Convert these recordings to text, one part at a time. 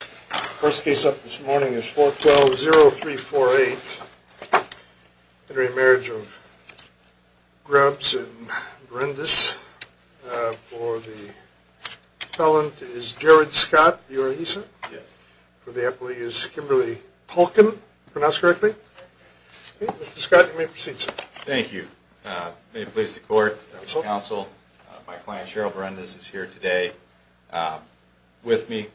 The first case up this morning is 412-0348, re-marriage of Grubbs and Berendes. For the appellant is Jared Scott, you are he, sir? Yes. For the appellee is Kimberly Tolkien, pronounced correctly. Mr. Scott, you may proceed, sir. Thank you. May it please the court, counsel, my client Cheryl Berendes is here today with me,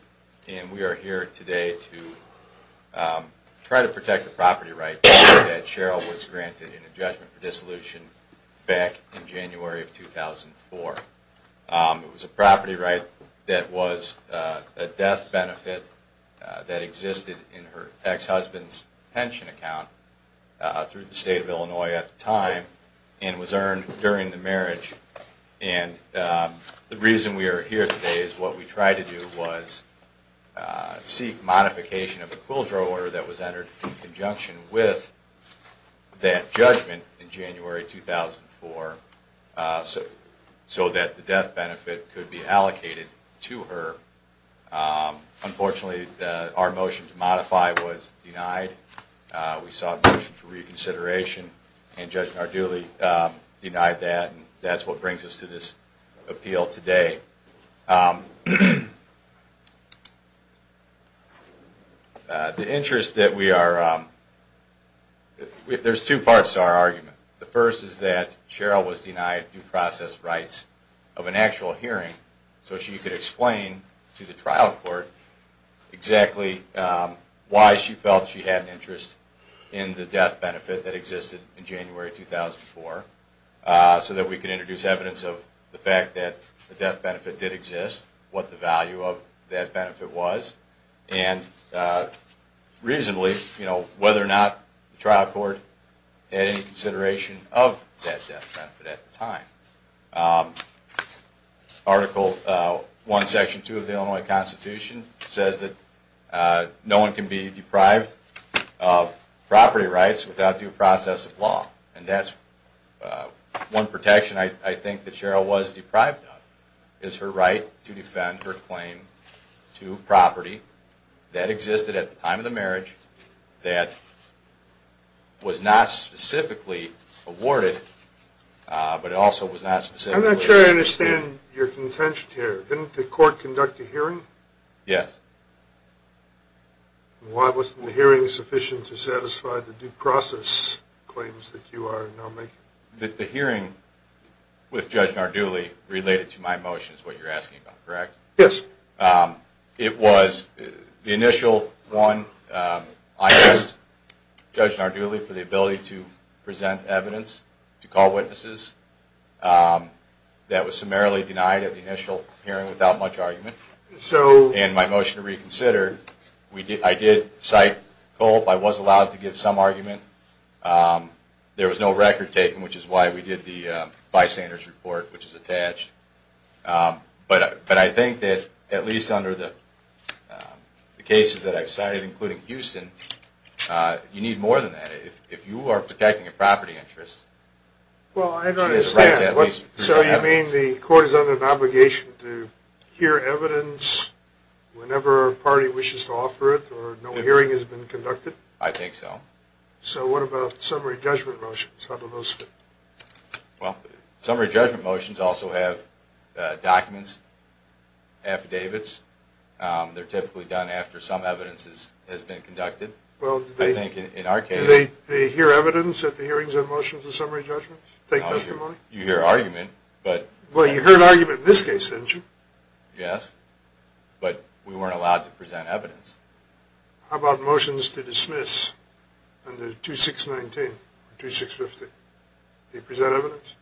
and we are here today to try to protect the property right that Cheryl was granted in a judgment for dissolution back in January of 2004. It was a property right that was a death benefit that existed in her ex-husband's pension account through the state of Illinois at the time and was earned during the marriage. And the reason we are here today is what we tried to do was seek modification of a quill drawer that was entered in conjunction with that judgment in January 2004 so that the death benefit could be allocated to her. Unfortunately, our motion to modify was denied. We sought a motion for reconsideration, and Judge Nardulli denied that, and that's what brings us to this appeal today. The interest that we are, there's two parts to our argument. The first is that Cheryl was denied due process rights of an actual hearing so she could explain to the trial court exactly why she felt she had an interest in the death benefit that existed in January 2004 so that we could introduce evidence of the fact that the death benefit did exist, what the value of that benefit was, and reasonably whether or not the trial court had any consideration of that death benefit at the time. Article 1, Section 2 of the Illinois Constitution says that no one can be deprived of property rights without due process of law, and that's one protection I think that Cheryl was deprived of, is her right to defend her claim to property that existed at the time of the marriage that was not specifically awarded, but it also was not specifically... I'm not sure I understand your contention here. Didn't the court conduct a hearing? Yes. Why wasn't the hearing sufficient to satisfy the due process claims that you are now making? The hearing with Judge Nardulli related to my motion is what you're asking about, correct? Yes. It was the initial one. I asked Judge Nardulli for the ability to present evidence, to call witnesses. That was summarily denied at the initial hearing without much argument. So... And my motion to reconsider, I did cite Colt. I was allowed to give some argument. There was no record taken, which is why we did the bystanders report, which is attached. But I think that at least under the cases that I've cited, including Houston, you need more than that. If you are protecting a property interest... Well, I don't understand. So you mean the court is under an obligation to hear evidence whenever a party wishes to offer it, or no hearing has been conducted? I think so. So what about summary judgment motions? How do those fit? Well, summary judgment motions also have documents, affidavits. They're typically done after some evidence has been conducted. Well, do they... I think in our case... Do they hear evidence at the hearings of motions and summary judgments? Take testimony? You hear argument, but... Well, you heard argument in this case, didn't you? Yes, but we weren't allowed to present evidence. How about motions to dismiss under 2619 or 2650? Do you present evidence?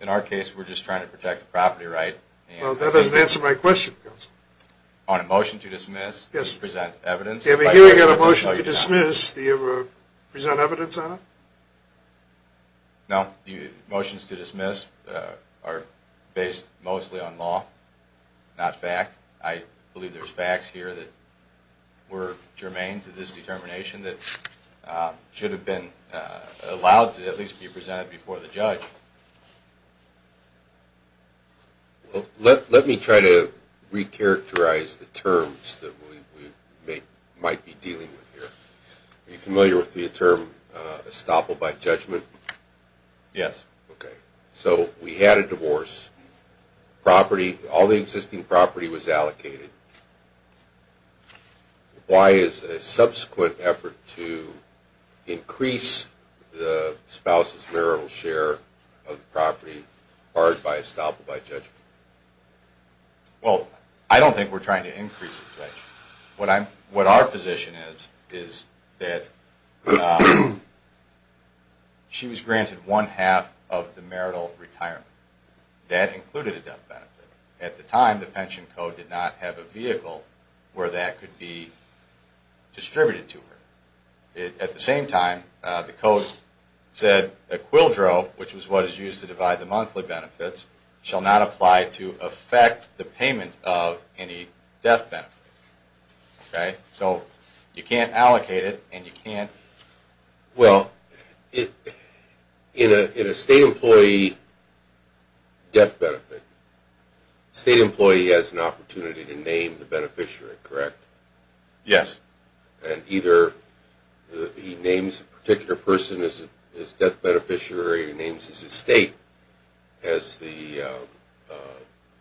In our case, we're just trying to protect the property right. Well, that doesn't answer my question, counsel. On a motion to dismiss, do you present evidence? Yeah, but here we've got a motion to dismiss. Do you present evidence on it? No. Motions to dismiss are based mostly on law, not fact. I believe there's facts here that were germane to this determination that should have been allowed to at least be presented before the judge. Well, let me try to recharacterize the terms that we might be dealing with here. Are you familiar with the term estoppel by judgment? Yes. Okay. So we had a divorce. All the existing property was allocated. Why is a subsequent effort to increase the spouse's marital share of the property barred by estoppel by judgment? Well, I don't think we're trying to increase it, Judge. What our position is, is that she was granted one-half of the marital retirement. That included a death benefit. At the time, the pension code did not have a vehicle where that could be distributed to her. At the same time, the code said a quildro, which is what is used to divide the monthly benefits, shall not apply to affect the payment of any death benefit. Okay? So you can't allocate it, and you can't – Well, in a state employee death benefit, the state employee has an opportunity to name the beneficiary, correct? Yes. And either he names a particular person as death beneficiary or he names his estate as the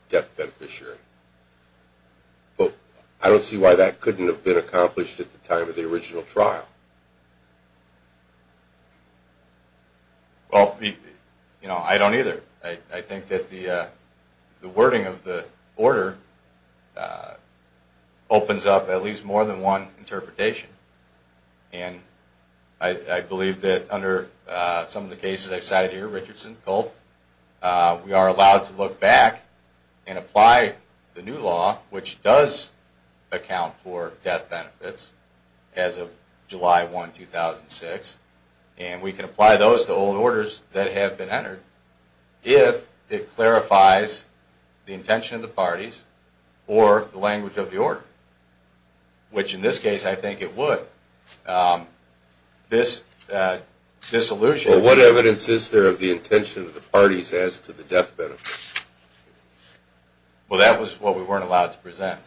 death beneficiary. But I don't see why that couldn't have been accomplished at the time of the original trial. Well, you know, I don't either. I think that the wording of the order opens up at least more than one interpretation. And I believe that under some of the cases I've cited here, Richardson, Culp, we are allowed to look back and apply the new law, which does account for death benefits as of July 1, 2006, and we can apply those to old orders that have been entered if it clarifies the intention of the parties or the language of the order, which in this case I think it would. This allusion – Well, what evidence is there of the intention of the parties as to the death benefit? Well, that was what we weren't allowed to present.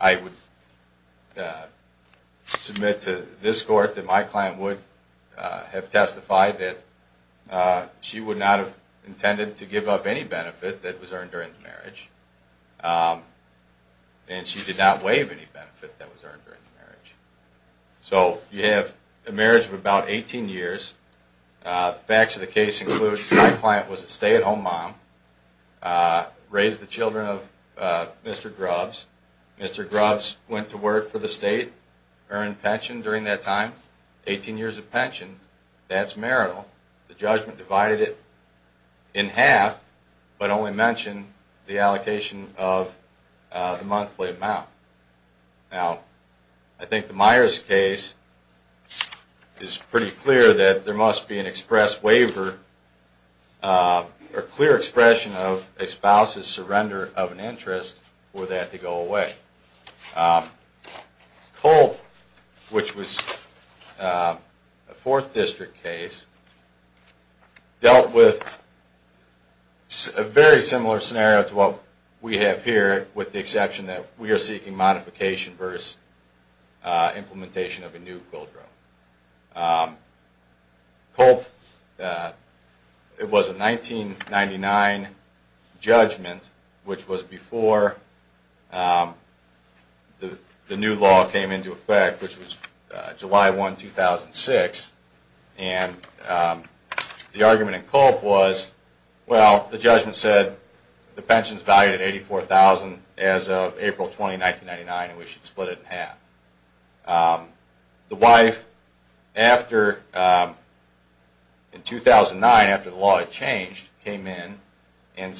I would submit to this court that my client would have testified that she would not have intended to give up any benefit that was earned during the marriage, and she did not waive any benefit that was earned during the marriage. So you have a marriage of about 18 years. The facts of the case include my client was a stay-at-home mom, raised the children of Mr. Grubbs. Mr. Grubbs went to work for the state, earned pension during that time, 18 years of pension. That's marital. The judgment divided it in half but only mentioned the allocation of the monthly amount. Now, I think the Myers case is pretty clear that there must be an express waiver or clear expression of a spouse's surrender of an interest for that to go away. Culp, which was a 4th District case, dealt with a very similar scenario to what we have here with the exception that we are seeking modification versus implementation of a new quid pro quo. Culp, it was a 1999 judgment, which was before the new law came into effect, which was July 1, 2006. And the argument in Culp was, well, the judgment said the pension is valued at $84,000 as of April 20, 1999, and we should split it in half. The wife, in 2009, after the law had changed, came in and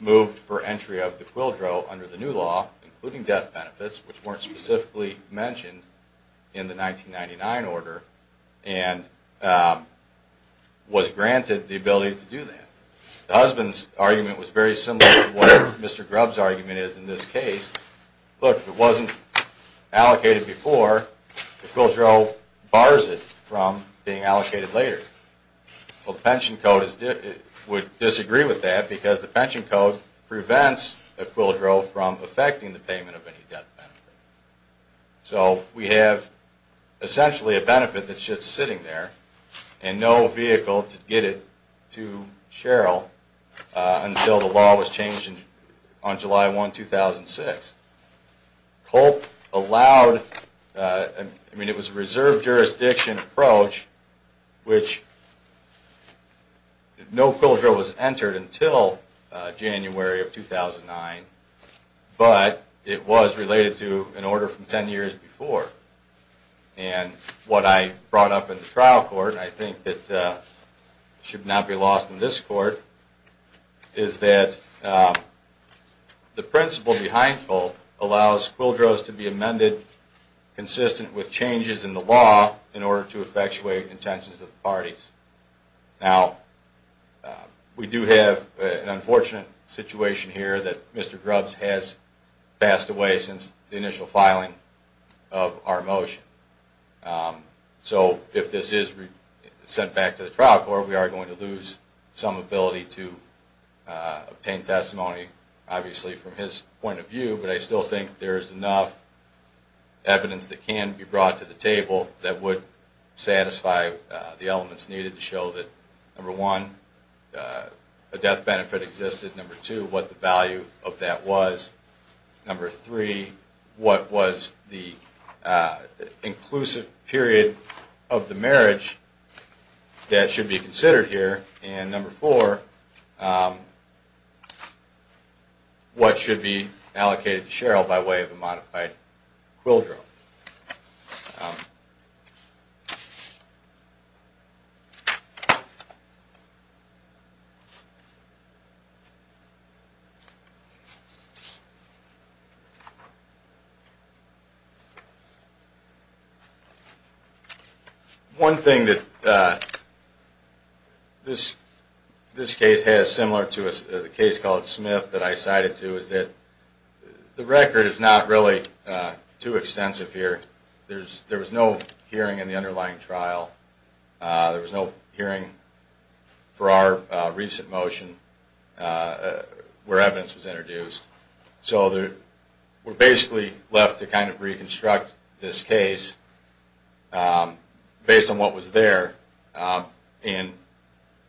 moved for entry of the quid pro quo under the new law, including death benefits, which weren't specifically mentioned in the 1999 order, and was granted the ability to do that. The husband's argument was very similar to what Mr. Grubbs' argument is in this case. Look, if it wasn't allocated before, Equilidro bars it from being allocated later. Well, the pension code would disagree with that because the pension code prevents Equilidro from affecting the payment of any death benefit. So we have essentially a benefit that's just sitting there and no vehicle to get it to Sherrill until the law was changed on July 1, 2006. Culp allowed, I mean, it was a reserve jurisdiction approach, which no quid pro quo was entered until January of 2009, but it was related to an order from 10 years before. And what I brought up in the trial court, and I think that should not be lost in this court, is that the principle behind Culp allows quid pros to be amended consistent with changes in the law in order to effectuate intentions of the parties. Now, we do have an unfortunate situation here that Mr. Grubbs has passed away since the initial filing of our motion. So if this is sent back to the trial court, we are going to lose some ability to obtain testimony, obviously from his point of view, but I still think there is enough evidence that can be brought to the table that would satisfy the elements needed to show that, number one, a death benefit existed, number two, what the value of that was, number three, what was the inclusive period of the marriage that should be considered here, and number four, what should be allocated to Cheryl by way of a modified quid pro. One thing that this case has similar to the case called Smith that I cited to is that the record is not really too extensive here. There was no hearing in the underlying trial. There was no hearing for our recent motion where evidence was introduced. So we're basically left to kind of reconstruct this case based on what was there, and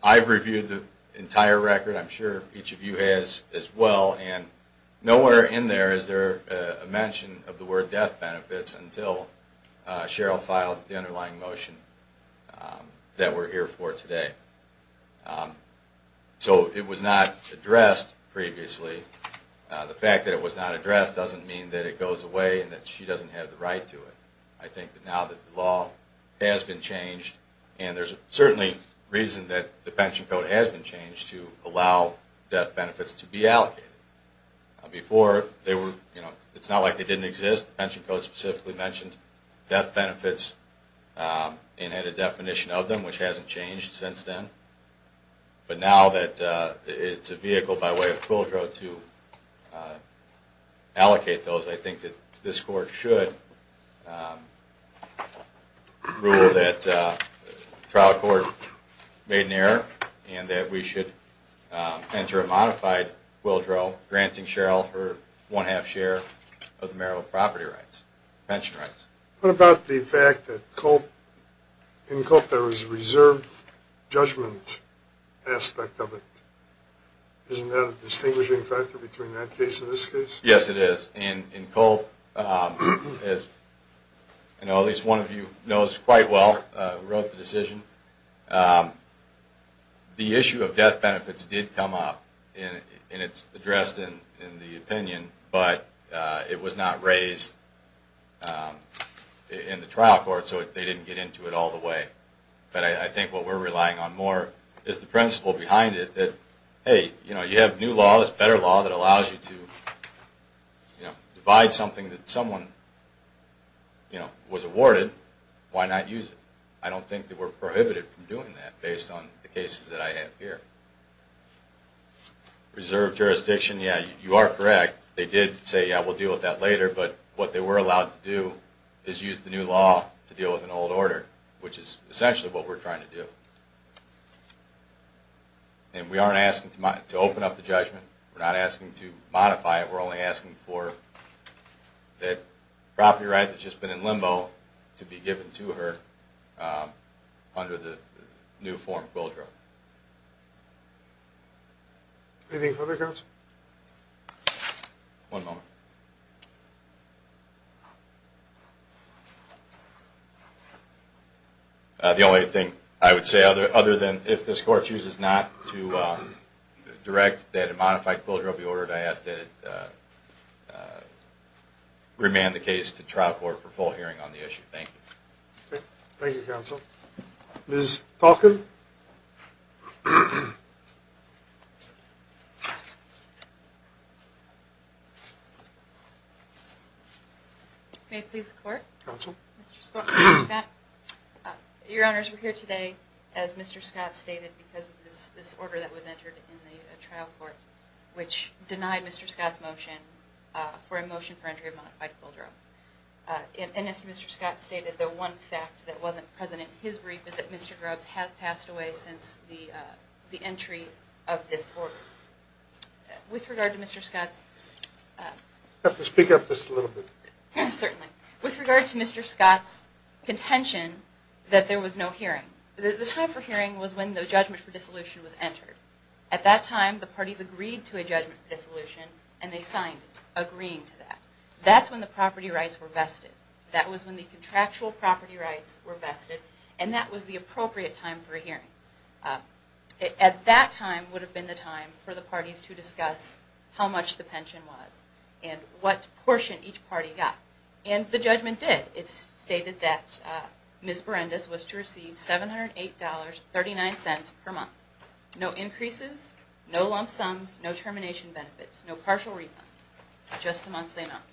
I've reviewed the entire record, I'm sure each of you has as well, and nowhere in there is there a mention of the word death benefits until Cheryl filed the underlying motion that we're here for today. So it was not addressed previously. The fact that it was not addressed doesn't mean that it goes away and that she doesn't have the right to it. I think that now that the law has been changed, and there's certainly reason that the pension code has been changed to allow death benefits to be allocated. Before, it's not like they didn't exist. The pension code specifically mentioned death benefits and had a definition of them, which hasn't changed since then. But now that it's a vehicle by way of quid pro to allocate those, I think that this court should rule that the trial court made an error and that we should enter a modified quid pro granting Cheryl her one-half share of the marital property rights, pension rights. What about the fact that in Culp there was a reserve judgment aspect of it? Isn't that a distinguishing factor between that case and this case? Yes, it is. In Culp, as at least one of you knows quite well who wrote the decision, the issue of death benefits did come up and it's addressed in the opinion, but it was not raised in the trial court so they didn't get into it all the way. But I think what we're relying on more is the principle behind it that, hey, you have new law, there's better law that allows you to divide something that someone was awarded. Why not use it? I don't think that we're prohibited from doing that based on the cases that I have here. Reserve jurisdiction, yeah, you are correct. They did say, yeah, we'll deal with that later, but what they were allowed to do is use the new law to deal with an old order, which is essentially what we're trying to do. And we aren't asking to open up the judgment. We're not asking to modify it. We're only asking for that property right that's just been in limbo to be given to her under the new form of builder. Anything further, counsel? One moment. The only thing I would say other than if this court chooses not to direct that a modified builder be ordered, I ask that it remand the case to trial court for full hearing on the issue. Thank you. Thank you, counsel. Ms. Falcon? May it please the court? Counsel? Mr. Scott, your honors, we're here today, as Mr. Scott stated, because of this order that was entered in the trial court, which denied Mr. Scott's motion for a motion for entry of a modified boulder. And as Mr. Scott stated, the one fact that wasn't present in his brief is that Mr. Grubbs has passed the order. He's passed away since the entry of this order. With regard to Mr. Scott's... I have to speak up just a little bit. Certainly. With regard to Mr. Scott's contention that there was no hearing, the time for hearing was when the judgment for dissolution was entered. At that time, the parties agreed to a judgment for dissolution, and they signed it, agreeing to that. That's when the property rights were vested. That was when the contractual property rights were vested, and that was the appropriate time for a hearing. At that time would have been the time for the parties to discuss how much the pension was and what portion each party got. And the judgment did. It stated that Ms. Berendes was to receive $708.39 per month. No increases, no lump sums, no termination benefits, no partial refunds, just the monthly amount.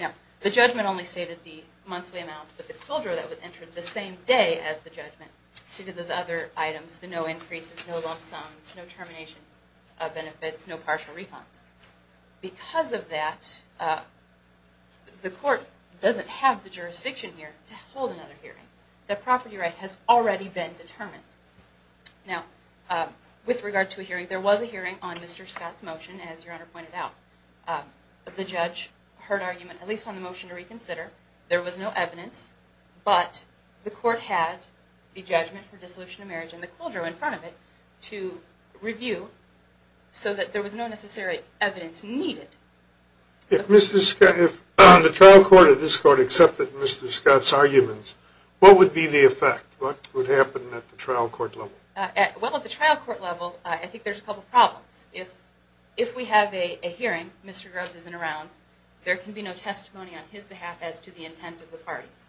Now, the judgment only stated the monthly amount, but the quildra that was entered the same day as the judgment stated those other items, the no increases, no lump sums, no termination benefits, no partial refunds. Because of that, the court doesn't have the jurisdiction here to hold another hearing. The property right has already been determined. Now, with regard to a hearing, there was a hearing on Mr. Scott's motion, as Your Honor pointed out. The judge heard argument, at least on the motion to reconsider. There was no evidence, but the court had the judgment for dissolution of marriage and the quildra in front of it to review so that there was no necessary evidence needed. If the trial court of this court accepted Mr. Scott's arguments, what would be the effect? What would happen at the trial court level? Well, at the trial court level, I think there's a couple problems. If we have a hearing, Mr. Grubbs isn't around, there can be no testimony on his behalf as to the intent of the parties.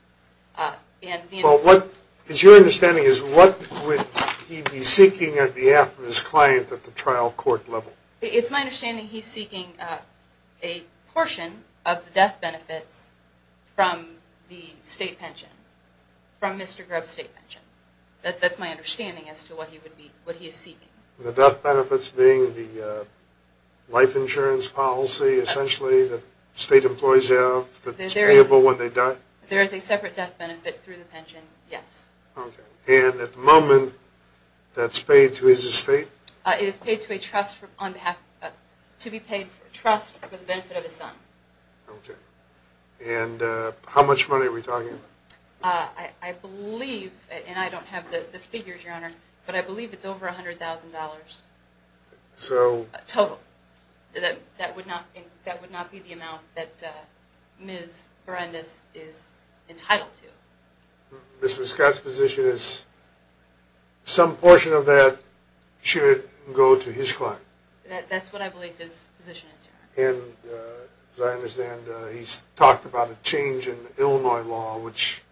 Well, what is your understanding is what would he be seeking on behalf of his client at the trial court level? It's my understanding he's seeking a portion of the death benefits from the state pension, from Mr. Grubbs' state pension. That's my understanding as to what he is seeking. The death benefits being the life insurance policy, essentially, that state employees have that's payable when they die? There is a separate death benefit through the pension, yes. Okay. And at the moment, that's paid to his estate? It is paid to a trust for the benefit of his son. Okay. And how much money are we talking about? I believe, and I don't have the figures, Your Honor, but I believe it's over $100,000 total. That would not be the amount that Ms. Berendes is entitled to. Mrs. Scott's position is some portion of that should go to his client? That's what I believe his position is, Your Honor. As I understand, he's talked about a change in Illinois law, which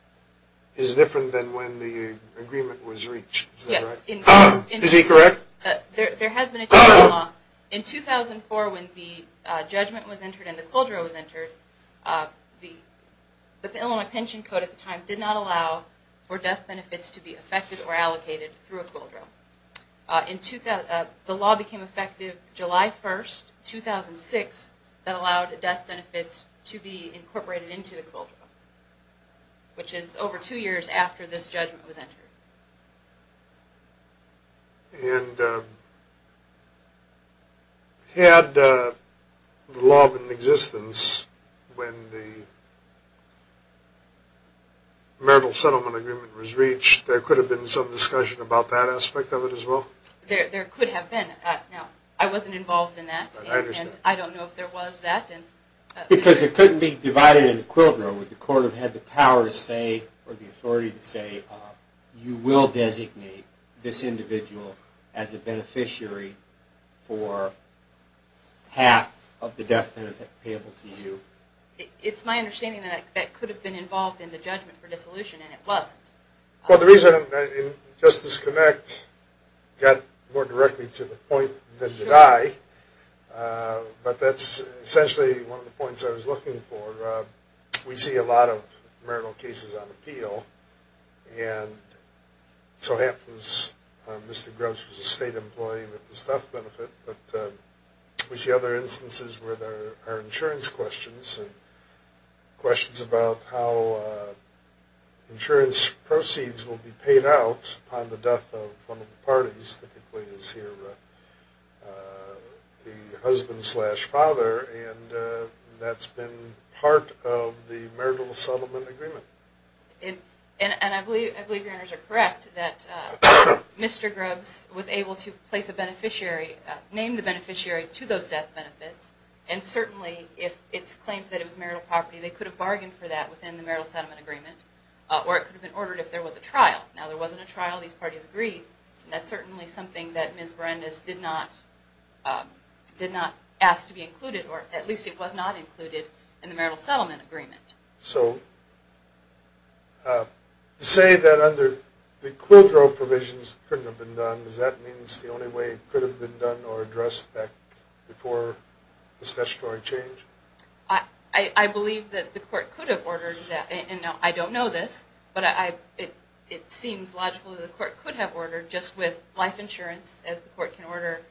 is different than when the agreement was reached, is that right? Yes. Is he correct? There has been a change in law. In 2004, when the judgment was entered and the quadro was entered, the Illinois pension code at the time did not allow for death benefits to be affected or allocated through a quadro. The law became effective July 1st, 2006, that allowed death benefits to be incorporated into the quadro, which is over two years after this judgment was entered. And had the law been in existence when the marital settlement agreement was reached, there could have been some discussion about that aspect of it as well? There could have been. Now, I wasn't involved in that, and I don't know if there was that. Because it couldn't be divided into quadro. Would the court have had the power to say or the authority to say you will designate this individual as a beneficiary for half of the death benefit payable to you? Well, the reason Justice Connect got more directly to the point than did I, but that's essentially one of the points I was looking for. We see a lot of marital cases on appeal. And so happens Mr. Grubbs was a state employee with the stuff benefit. But we see other instances where there are insurance questions about how insurance proceeds will be paid out on the death of one of the parties, typically it's here the husband slash father, and that's been part of the marital settlement agreement. And I believe your honors are correct that Mr. Grubbs was able to place a beneficiary, name the beneficiary to those death benefits, and certainly if it's claimed that it was marital property, they could have bargained for that within the marital settlement agreement, or it could have been ordered if there was a trial. Now there wasn't a trial. These parties agreed. And that's certainly something that Ms. Berendes did not ask to be included, or at least it was not included in the marital settlement agreement. So to say that under the quadro provisions couldn't have been done, does that mean it's the only way it could have been done or addressed back before this statutory change? I believe that the court could have ordered that. And I don't know this, but it seems logical that the court could have ordered, just with life insurance as the court can order,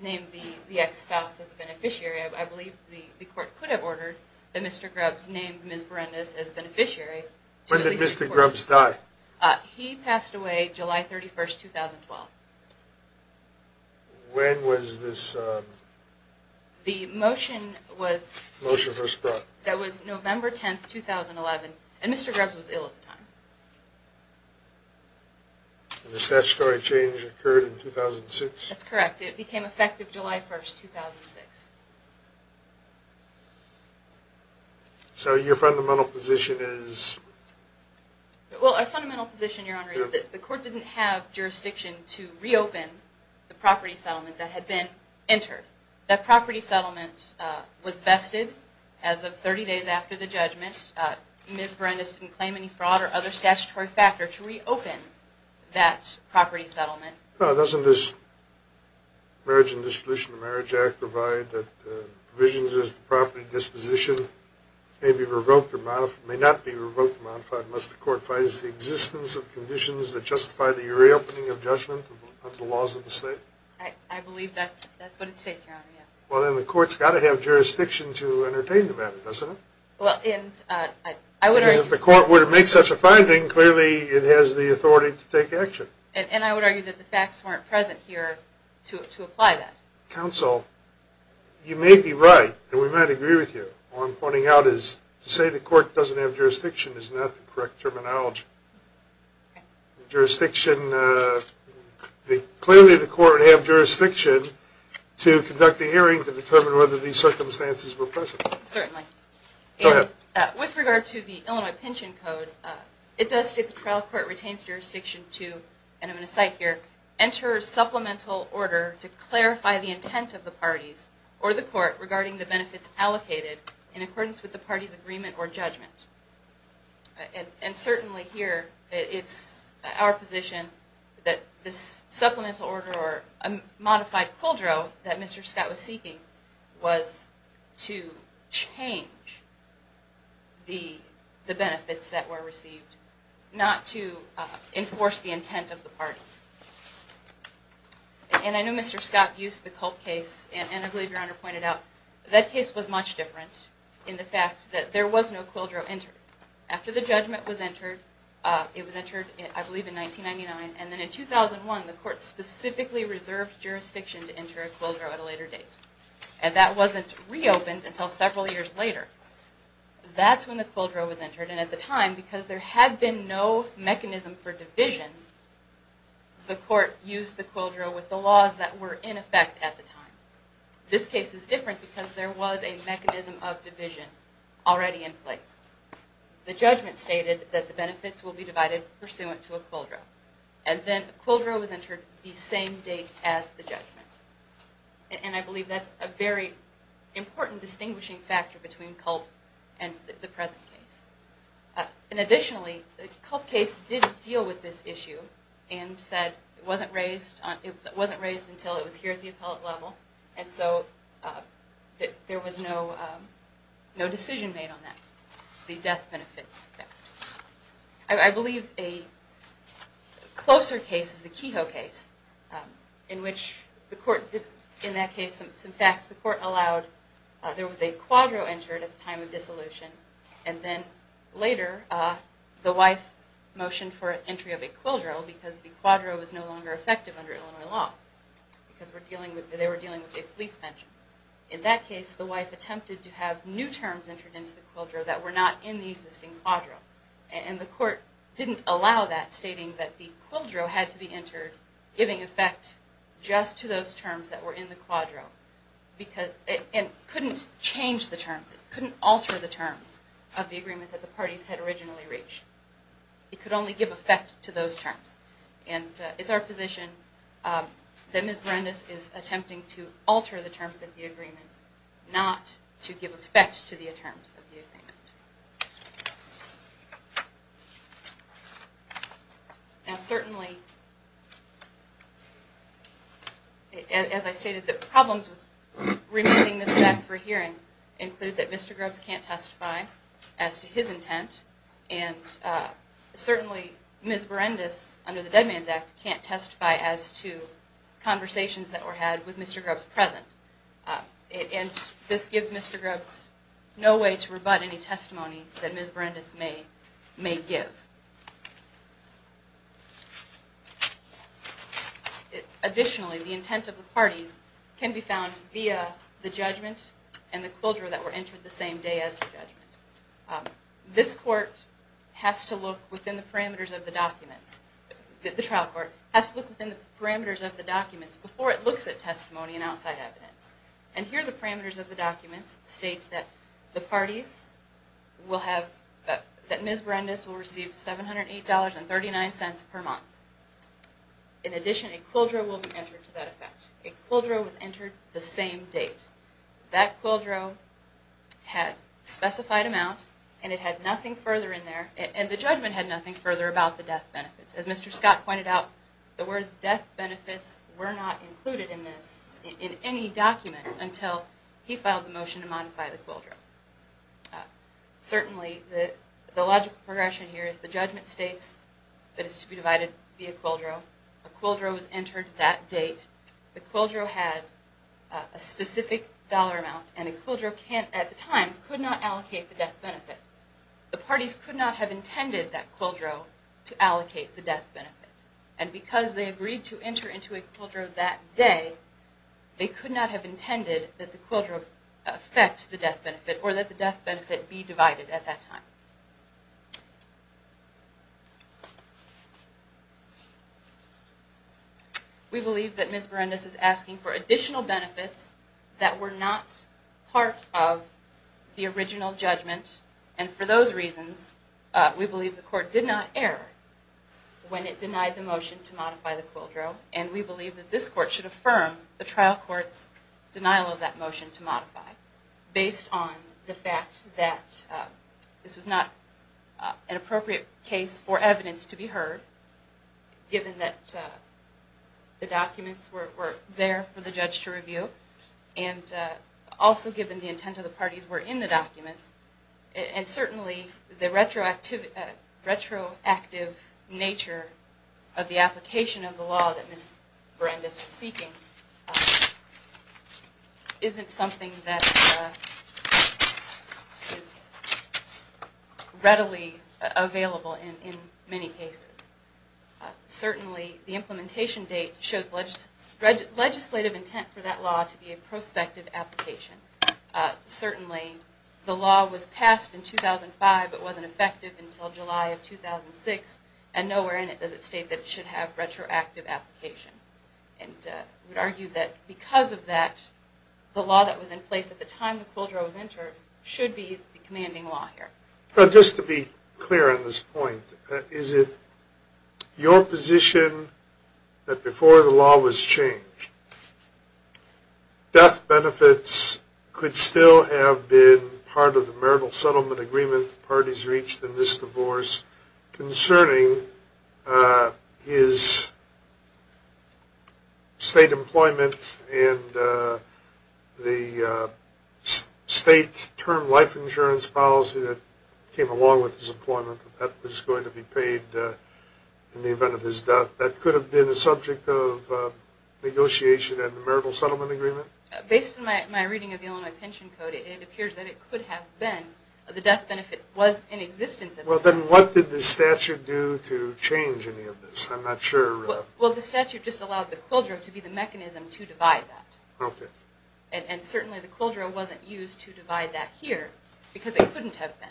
name the ex-spouse as a beneficiary. I believe the court could have ordered that Mr. Grubbs name Ms. Berendes as beneficiary. When did Mr. Grubbs die? He passed away July 31, 2012. When was this? The motion was November 10, 2011, and Mr. Grubbs was ill at the time. And the statutory change occurred in 2006? That's correct. It became effective July 1, 2006. So your fundamental position is? Well, our fundamental position, Your Honor, is that the court didn't have jurisdiction to reopen the property settlement that had been entered. That property settlement was vested as of 30 days after the judgment. Ms. Berendes didn't claim any fraud or other statutory factor to reopen that property settlement. Well, doesn't this Marriage and Disposition of Marriage Act provide that the provisions of the property disposition may not be revoked or modified unless the court finds the existence of conditions that justify the reopening of judgment under the laws of the state? I believe that's what it states, Your Honor, yes. Well, then the court's got to have jurisdiction to entertain them, isn't it? Well, and I would argue that the facts weren't present here to apply that. Counsel, you may be right, and we might agree with you. All I'm pointing out is to say the court doesn't have jurisdiction is not the correct terminology. Jurisdiction, clearly the court would have jurisdiction to conduct a hearing to determine whether these circumstances were present. Certainly. Go ahead. With regard to the Illinois Pension Code, it does state the trial court retains jurisdiction to, and I'm going to cite here, enter a supplemental order to clarify the intent of the parties or the court regarding the benefits allocated in accordance with the party's agreement or judgment. And certainly here, it's our position that this supplemental order or modified quadro that Mr. Scott was seeking was to change the benefits that were received, not to enforce the intent of the parties. And I know Mr. Scott used the Culp case, and I believe Your Honor pointed out that case was much different in the fact that there was no quadro entered. After the judgment was entered, it was entered, I believe, in 1999, and then in 2001, the court specifically reserved jurisdiction to enter a quadro at a later date. And that wasn't reopened until several years later. That's when the quadro was entered, and at the time, because there had been no mechanism for division, the court used the quadro with the laws that were in effect at the time. This case is different because there was a mechanism of division already in place. The judgment stated that the benefits will be divided pursuant to a quadro, and then a quadro was entered the same date as the judgment. And I believe that's a very important distinguishing factor between Culp and the present case. And additionally, the Culp case did deal with this issue and said it wasn't raised until it was here at the appellate level, and so there was no decision made on that, the death benefits. I believe a closer case is the Kehoe case, in which the court did, in that case, some facts. The court allowed, there was a quadro entered at the time of dissolution, and then later, the wife motioned for entry of a quadro because the quadro was no longer effective under Illinois law, because they were dealing with a police bench. In that case, the wife attempted to have new terms entered into the quadro that were not in the existing quadro, and the court didn't allow that, stating that the quadro had to be entered, giving effect just to those terms that were in the quadro, and couldn't change the terms, couldn't alter the terms of the agreement that the parties had originally reached. It could only give effect to those terms. And it's our position that Ms. Berendis is attempting to alter the terms of the agreement, not to give effect to the terms of the agreement. Now, certainly, as I stated, the problems with remanding Ms. Beck for hearing include that Mr. Grubbs can't testify as to his intent, and certainly Ms. Berendis, under the Dead Man's Act, can't testify as to conversations that were had with Mr. Grubbs present. And this gives Mr. Grubbs no way to rebut any testimony that Ms. Berendis may give. Additionally, the intent of the parties can be found via the judgment and the quadro that were entered the same day as the judgment. This trial court has to look within the parameters of the documents before it looks at testimony and outside evidence. And here the parameters of the documents state that Ms. Berendis will receive $708.39 per month. In addition, a quadro will be entered to that effect. A quadro was entered the same date. That quadro had specified amount, and it had nothing further in there, and the judgment had nothing further about the death benefits. As Mr. Scott pointed out, the words death benefits were not included in this, in any document, until he filed the motion to modify the quadro. Certainly, the logical progression here is the judgment states that it's to be divided via quadro. A quadro was entered that date. The quadro had a specific dollar amount, and a quadro at the time could not allocate the death benefit. The parties could not have intended that quadro to allocate the death benefit. And because they agreed to enter into a quadro that day, they could not have intended that the quadro affect the death benefit, or that the death benefit be divided at that time. We believe that Ms. Berendis is asking for additional benefits that were not part of the original judgment, and for those reasons, we believe the court did not err when it denied the motion to modify the quadro, and we believe that this court should affirm the trial court's denial of that motion to modify, based on the fact that this was not an appropriate case for evidence to be heard, given that the documents were there for the judge to review, and also given the intent of the parties were in the documents. And certainly, the retroactive nature of the application of the law that Ms. Berendis is seeking isn't something that is readily available in many cases. Certainly, the implementation date shows legislative intent for that law to be a prospective application. Certainly, the law was passed in 2005, but wasn't effective until July of 2006, and nowhere in it does it state that it should have retroactive application. And we argue that because of that, the law that was in place at the time the quadro was entered should be the commanding law here. Just to be clear on this point, is it your position that before the law was changed, death benefits could still have been part of the marital settlement agreement the parties reached in this divorce, concerning his state employment and the state term life insurance policy that came along with his employment, that that was going to be paid in the event of his death? That could have been a subject of negotiation at the marital settlement agreement? Based on my reading of the Illinois Pension Code, it appears that it could have been. The death benefit was in existence at the time. Well, then what did the statute do to change any of this? I'm not sure. Well, the statute just allowed the quadro to be the mechanism to divide that. Okay. And certainly, the quadro wasn't used to divide that here, because it couldn't have been.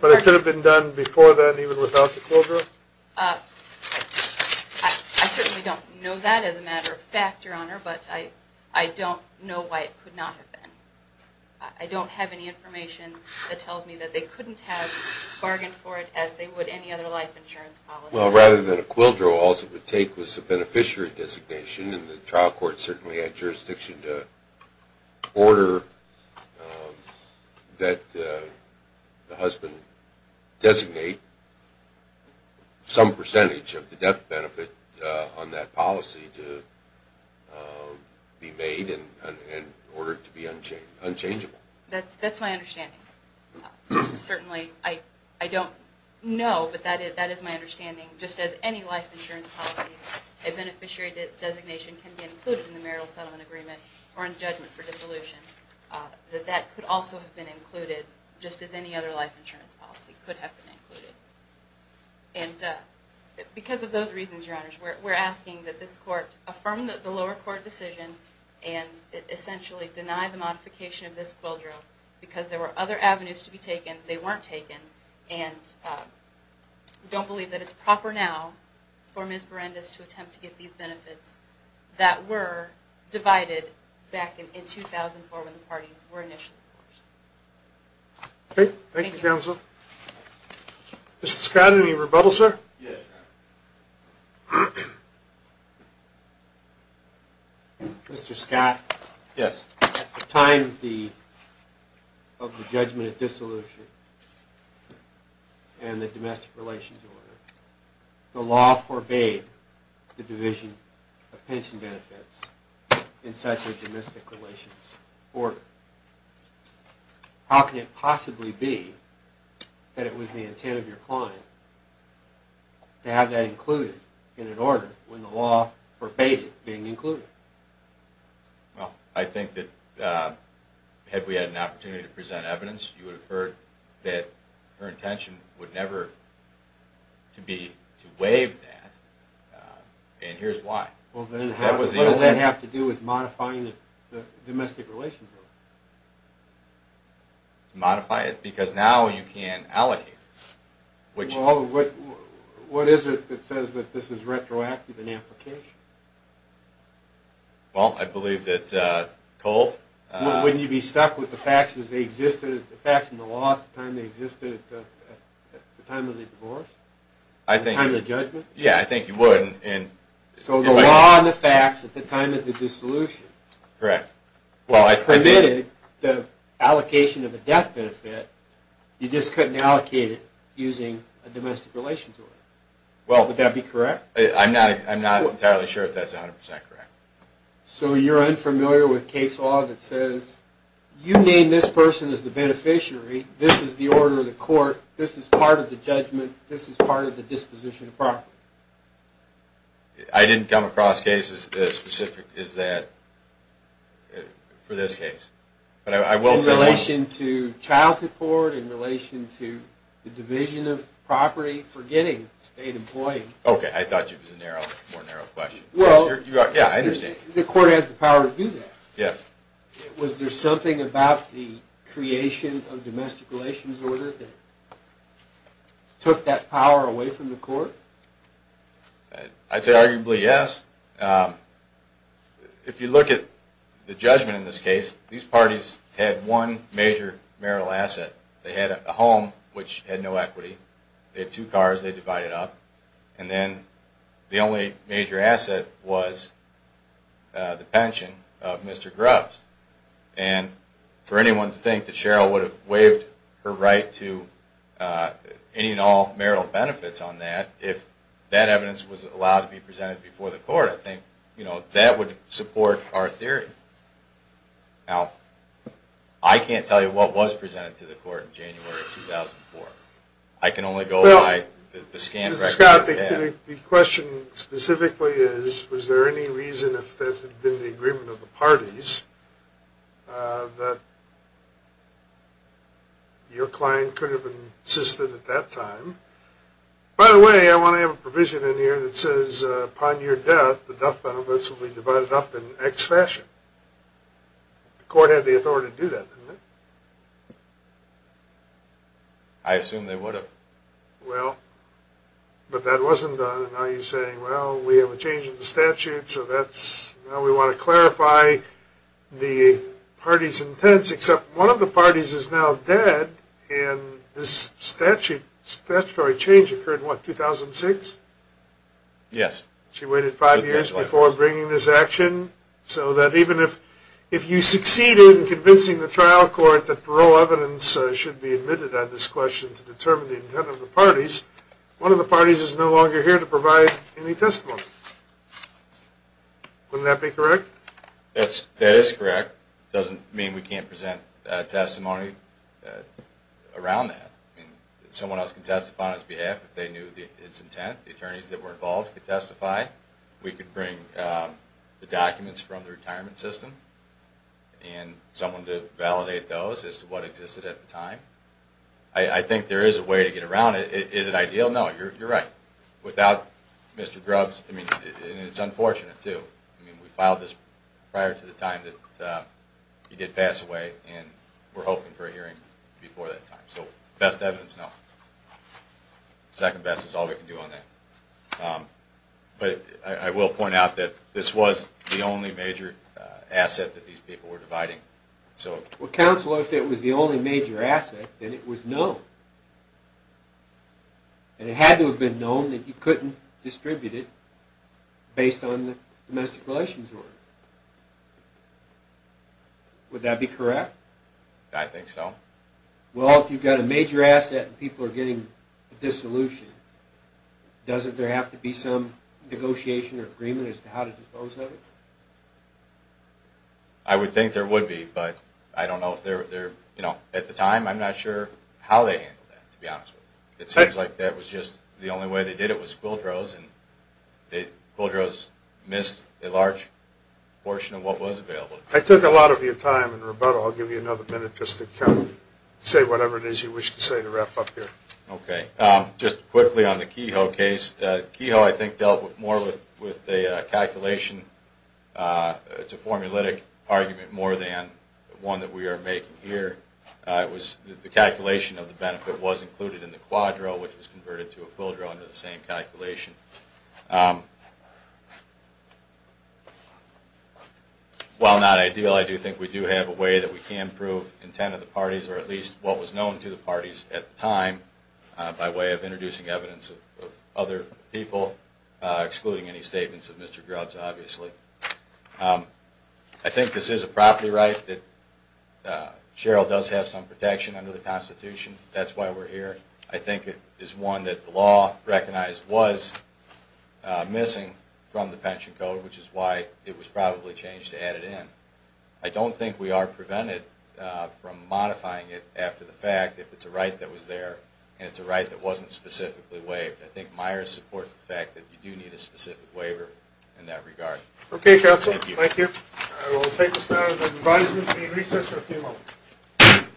But it could have been done before then even without the quadro? I certainly don't know that as a matter of fact, Your Honor, but I don't know why it could not have been. I don't have any information that tells me that they couldn't have bargained for it as they would any other life insurance policy. Well, rather than a quadro, all it would take was a beneficiary designation, and the trial court certainly had jurisdiction to order that the husband designate some percentage of the death benefit on that policy to be made in order to be unchangeable. That's my understanding. Certainly, I don't know, but that is my understanding. Just as any life insurance policy, a beneficiary designation can be included in the marital settlement agreement or in judgment for dissolution. That that could also have been included just as any other life insurance policy could have been included. And because of those reasons, Your Honors, we're asking that this court affirm the lower court decision and essentially deny the modification of this quadro because there were other avenues to be taken. They weren't taken, and don't believe that it's proper now for Ms. Berendes to attempt to get these benefits that were divided back in 2004 when the parties were initially forged. Thank you, counsel. Mr. Scott, any rebuttal, sir? Mr. Scott? Yes. At the time of the judgment of dissolution and the domestic relations order, the law forbade the division of pension benefits in such a domestic relations order. How can it possibly be that it was the intent of your client to have that included in an order when the law forbade it being included? Well, I think that had we had an opportunity to present evidence, you would have heard that her intention would never to be to waive that, and here's why. What does that have to do with modifying the domestic relations order? Modify it because now you can allocate it. What is it that says that this is retroactive in application? Well, I believe that Cole... Wouldn't you be stuck with the facts in the law at the time they existed at the time of the divorce? At the time of the judgment? Yeah, I think you would. So the law and the facts at the time of the dissolution... Correct. It permitted the allocation of a death benefit. You just couldn't allocate it using a domestic relations order. Well, would that be correct? I'm not entirely sure if that's 100% correct. So you're unfamiliar with case law that says, you name this person as the beneficiary, this is the order of the court, this is part of the judgment, this is part of the disposition of property. I didn't come across cases as specific as that for this case. In relation to child support, in relation to the division of property, forgetting state employees... Okay, I thought you had a more narrow question. Well, the court has the power to do that. Yes. Was there something about the creation of domestic relations order that took that power away from the court? I'd say arguably yes. If you look at the judgment in this case, these parties had one major marital asset. They had a home, which had no equity. They had two cars they divided up. And then the only major asset was the pension of Mr. Grubbs. And for anyone to think that Cheryl would have waived her right to any and all marital benefits on that, if that evidence was allowed to be presented before the court, I think that would support our theory. Now, I can't tell you what was presented to the court in January of 2004. I can only go by the scan record. Mr. Scott, the question specifically is, was there any reason, if that had been the agreement of the parties, that your client could have insisted at that time? By the way, I want to have a provision in here that says, upon your death, the death benefits will be divided up in X fashion. The court had the authority to do that, didn't it? I assume they would have. Well, but that wasn't done. Now you're saying, well, we have a change in the statute, so now we want to clarify the parties' intents, except one of the parties is now dead, and this statutory change occurred in, what, 2006? Yes. She waited five years before bringing this action, so that even if you succeed in convincing the trial court that parole evidence should be admitted on this question to determine the intent of the parties, one of the parties is no longer here to provide any testimony. Wouldn't that be correct? That is correct. It doesn't mean we can't present testimony around that. Someone else can testify on his behalf if they knew his intent. The attorneys that were involved could testify. We could bring the documents from the retirement system and someone to validate those as to what existed at the time. I think there is a way to get around it. Is it ideal? No, you're right. Without Mr. Grubbs, and it's unfortunate too, we filed this prior to the time that he did pass away, and we're hoping for a hearing before that time. So best evidence, no. Second best is all we can do on that. But I will point out that this was the only major asset that these people were dividing. Well, counsel, if it was the only major asset, then it was known. And it had to have been known that you couldn't distribute it based on the domestic relations order. Would that be correct? I think so. Well, if you've got a major asset and people are getting a dissolution, doesn't there have to be some negotiation or agreement as to how to dispose of it? I would think there would be, but I don't know. At the time, I'm not sure how they handled that, to be honest with you. It seems like that was just the only way they did it was quildros, and quildros missed a large portion of what was available. I took a lot of your time and rebuttal. I'll give you another minute just to say whatever it is you wish to say to wrap up here. Okay. Just quickly on the Kehoe case, Kehoe, I think, dealt more with a calculation. It's a formulaic argument more than one that we are making here. It was the calculation of the benefit was included in the quadro, which was converted to a quildro under the same calculation. While not ideal, I do think we do have a way that we can prove intent of the parties or at least what was known to the parties at the time by way of introducing evidence of other people, excluding any statements of Mr. Grubbs, obviously. I think this is a property right that Cheryl does have some protection under the Constitution. That's why we're here. I think it is one that the law recognized was missing from the pension code, which is why it was probably changed to add it in. I don't think we are prevented from modifying it after the fact if it's a right that was there and it's a right that wasn't specifically waived. I think Meyers supports the fact that you do need a specific waiver in that regard. Okay, counsel. Thank you. I will take this matter into advisement. Any recess? There will be a moment.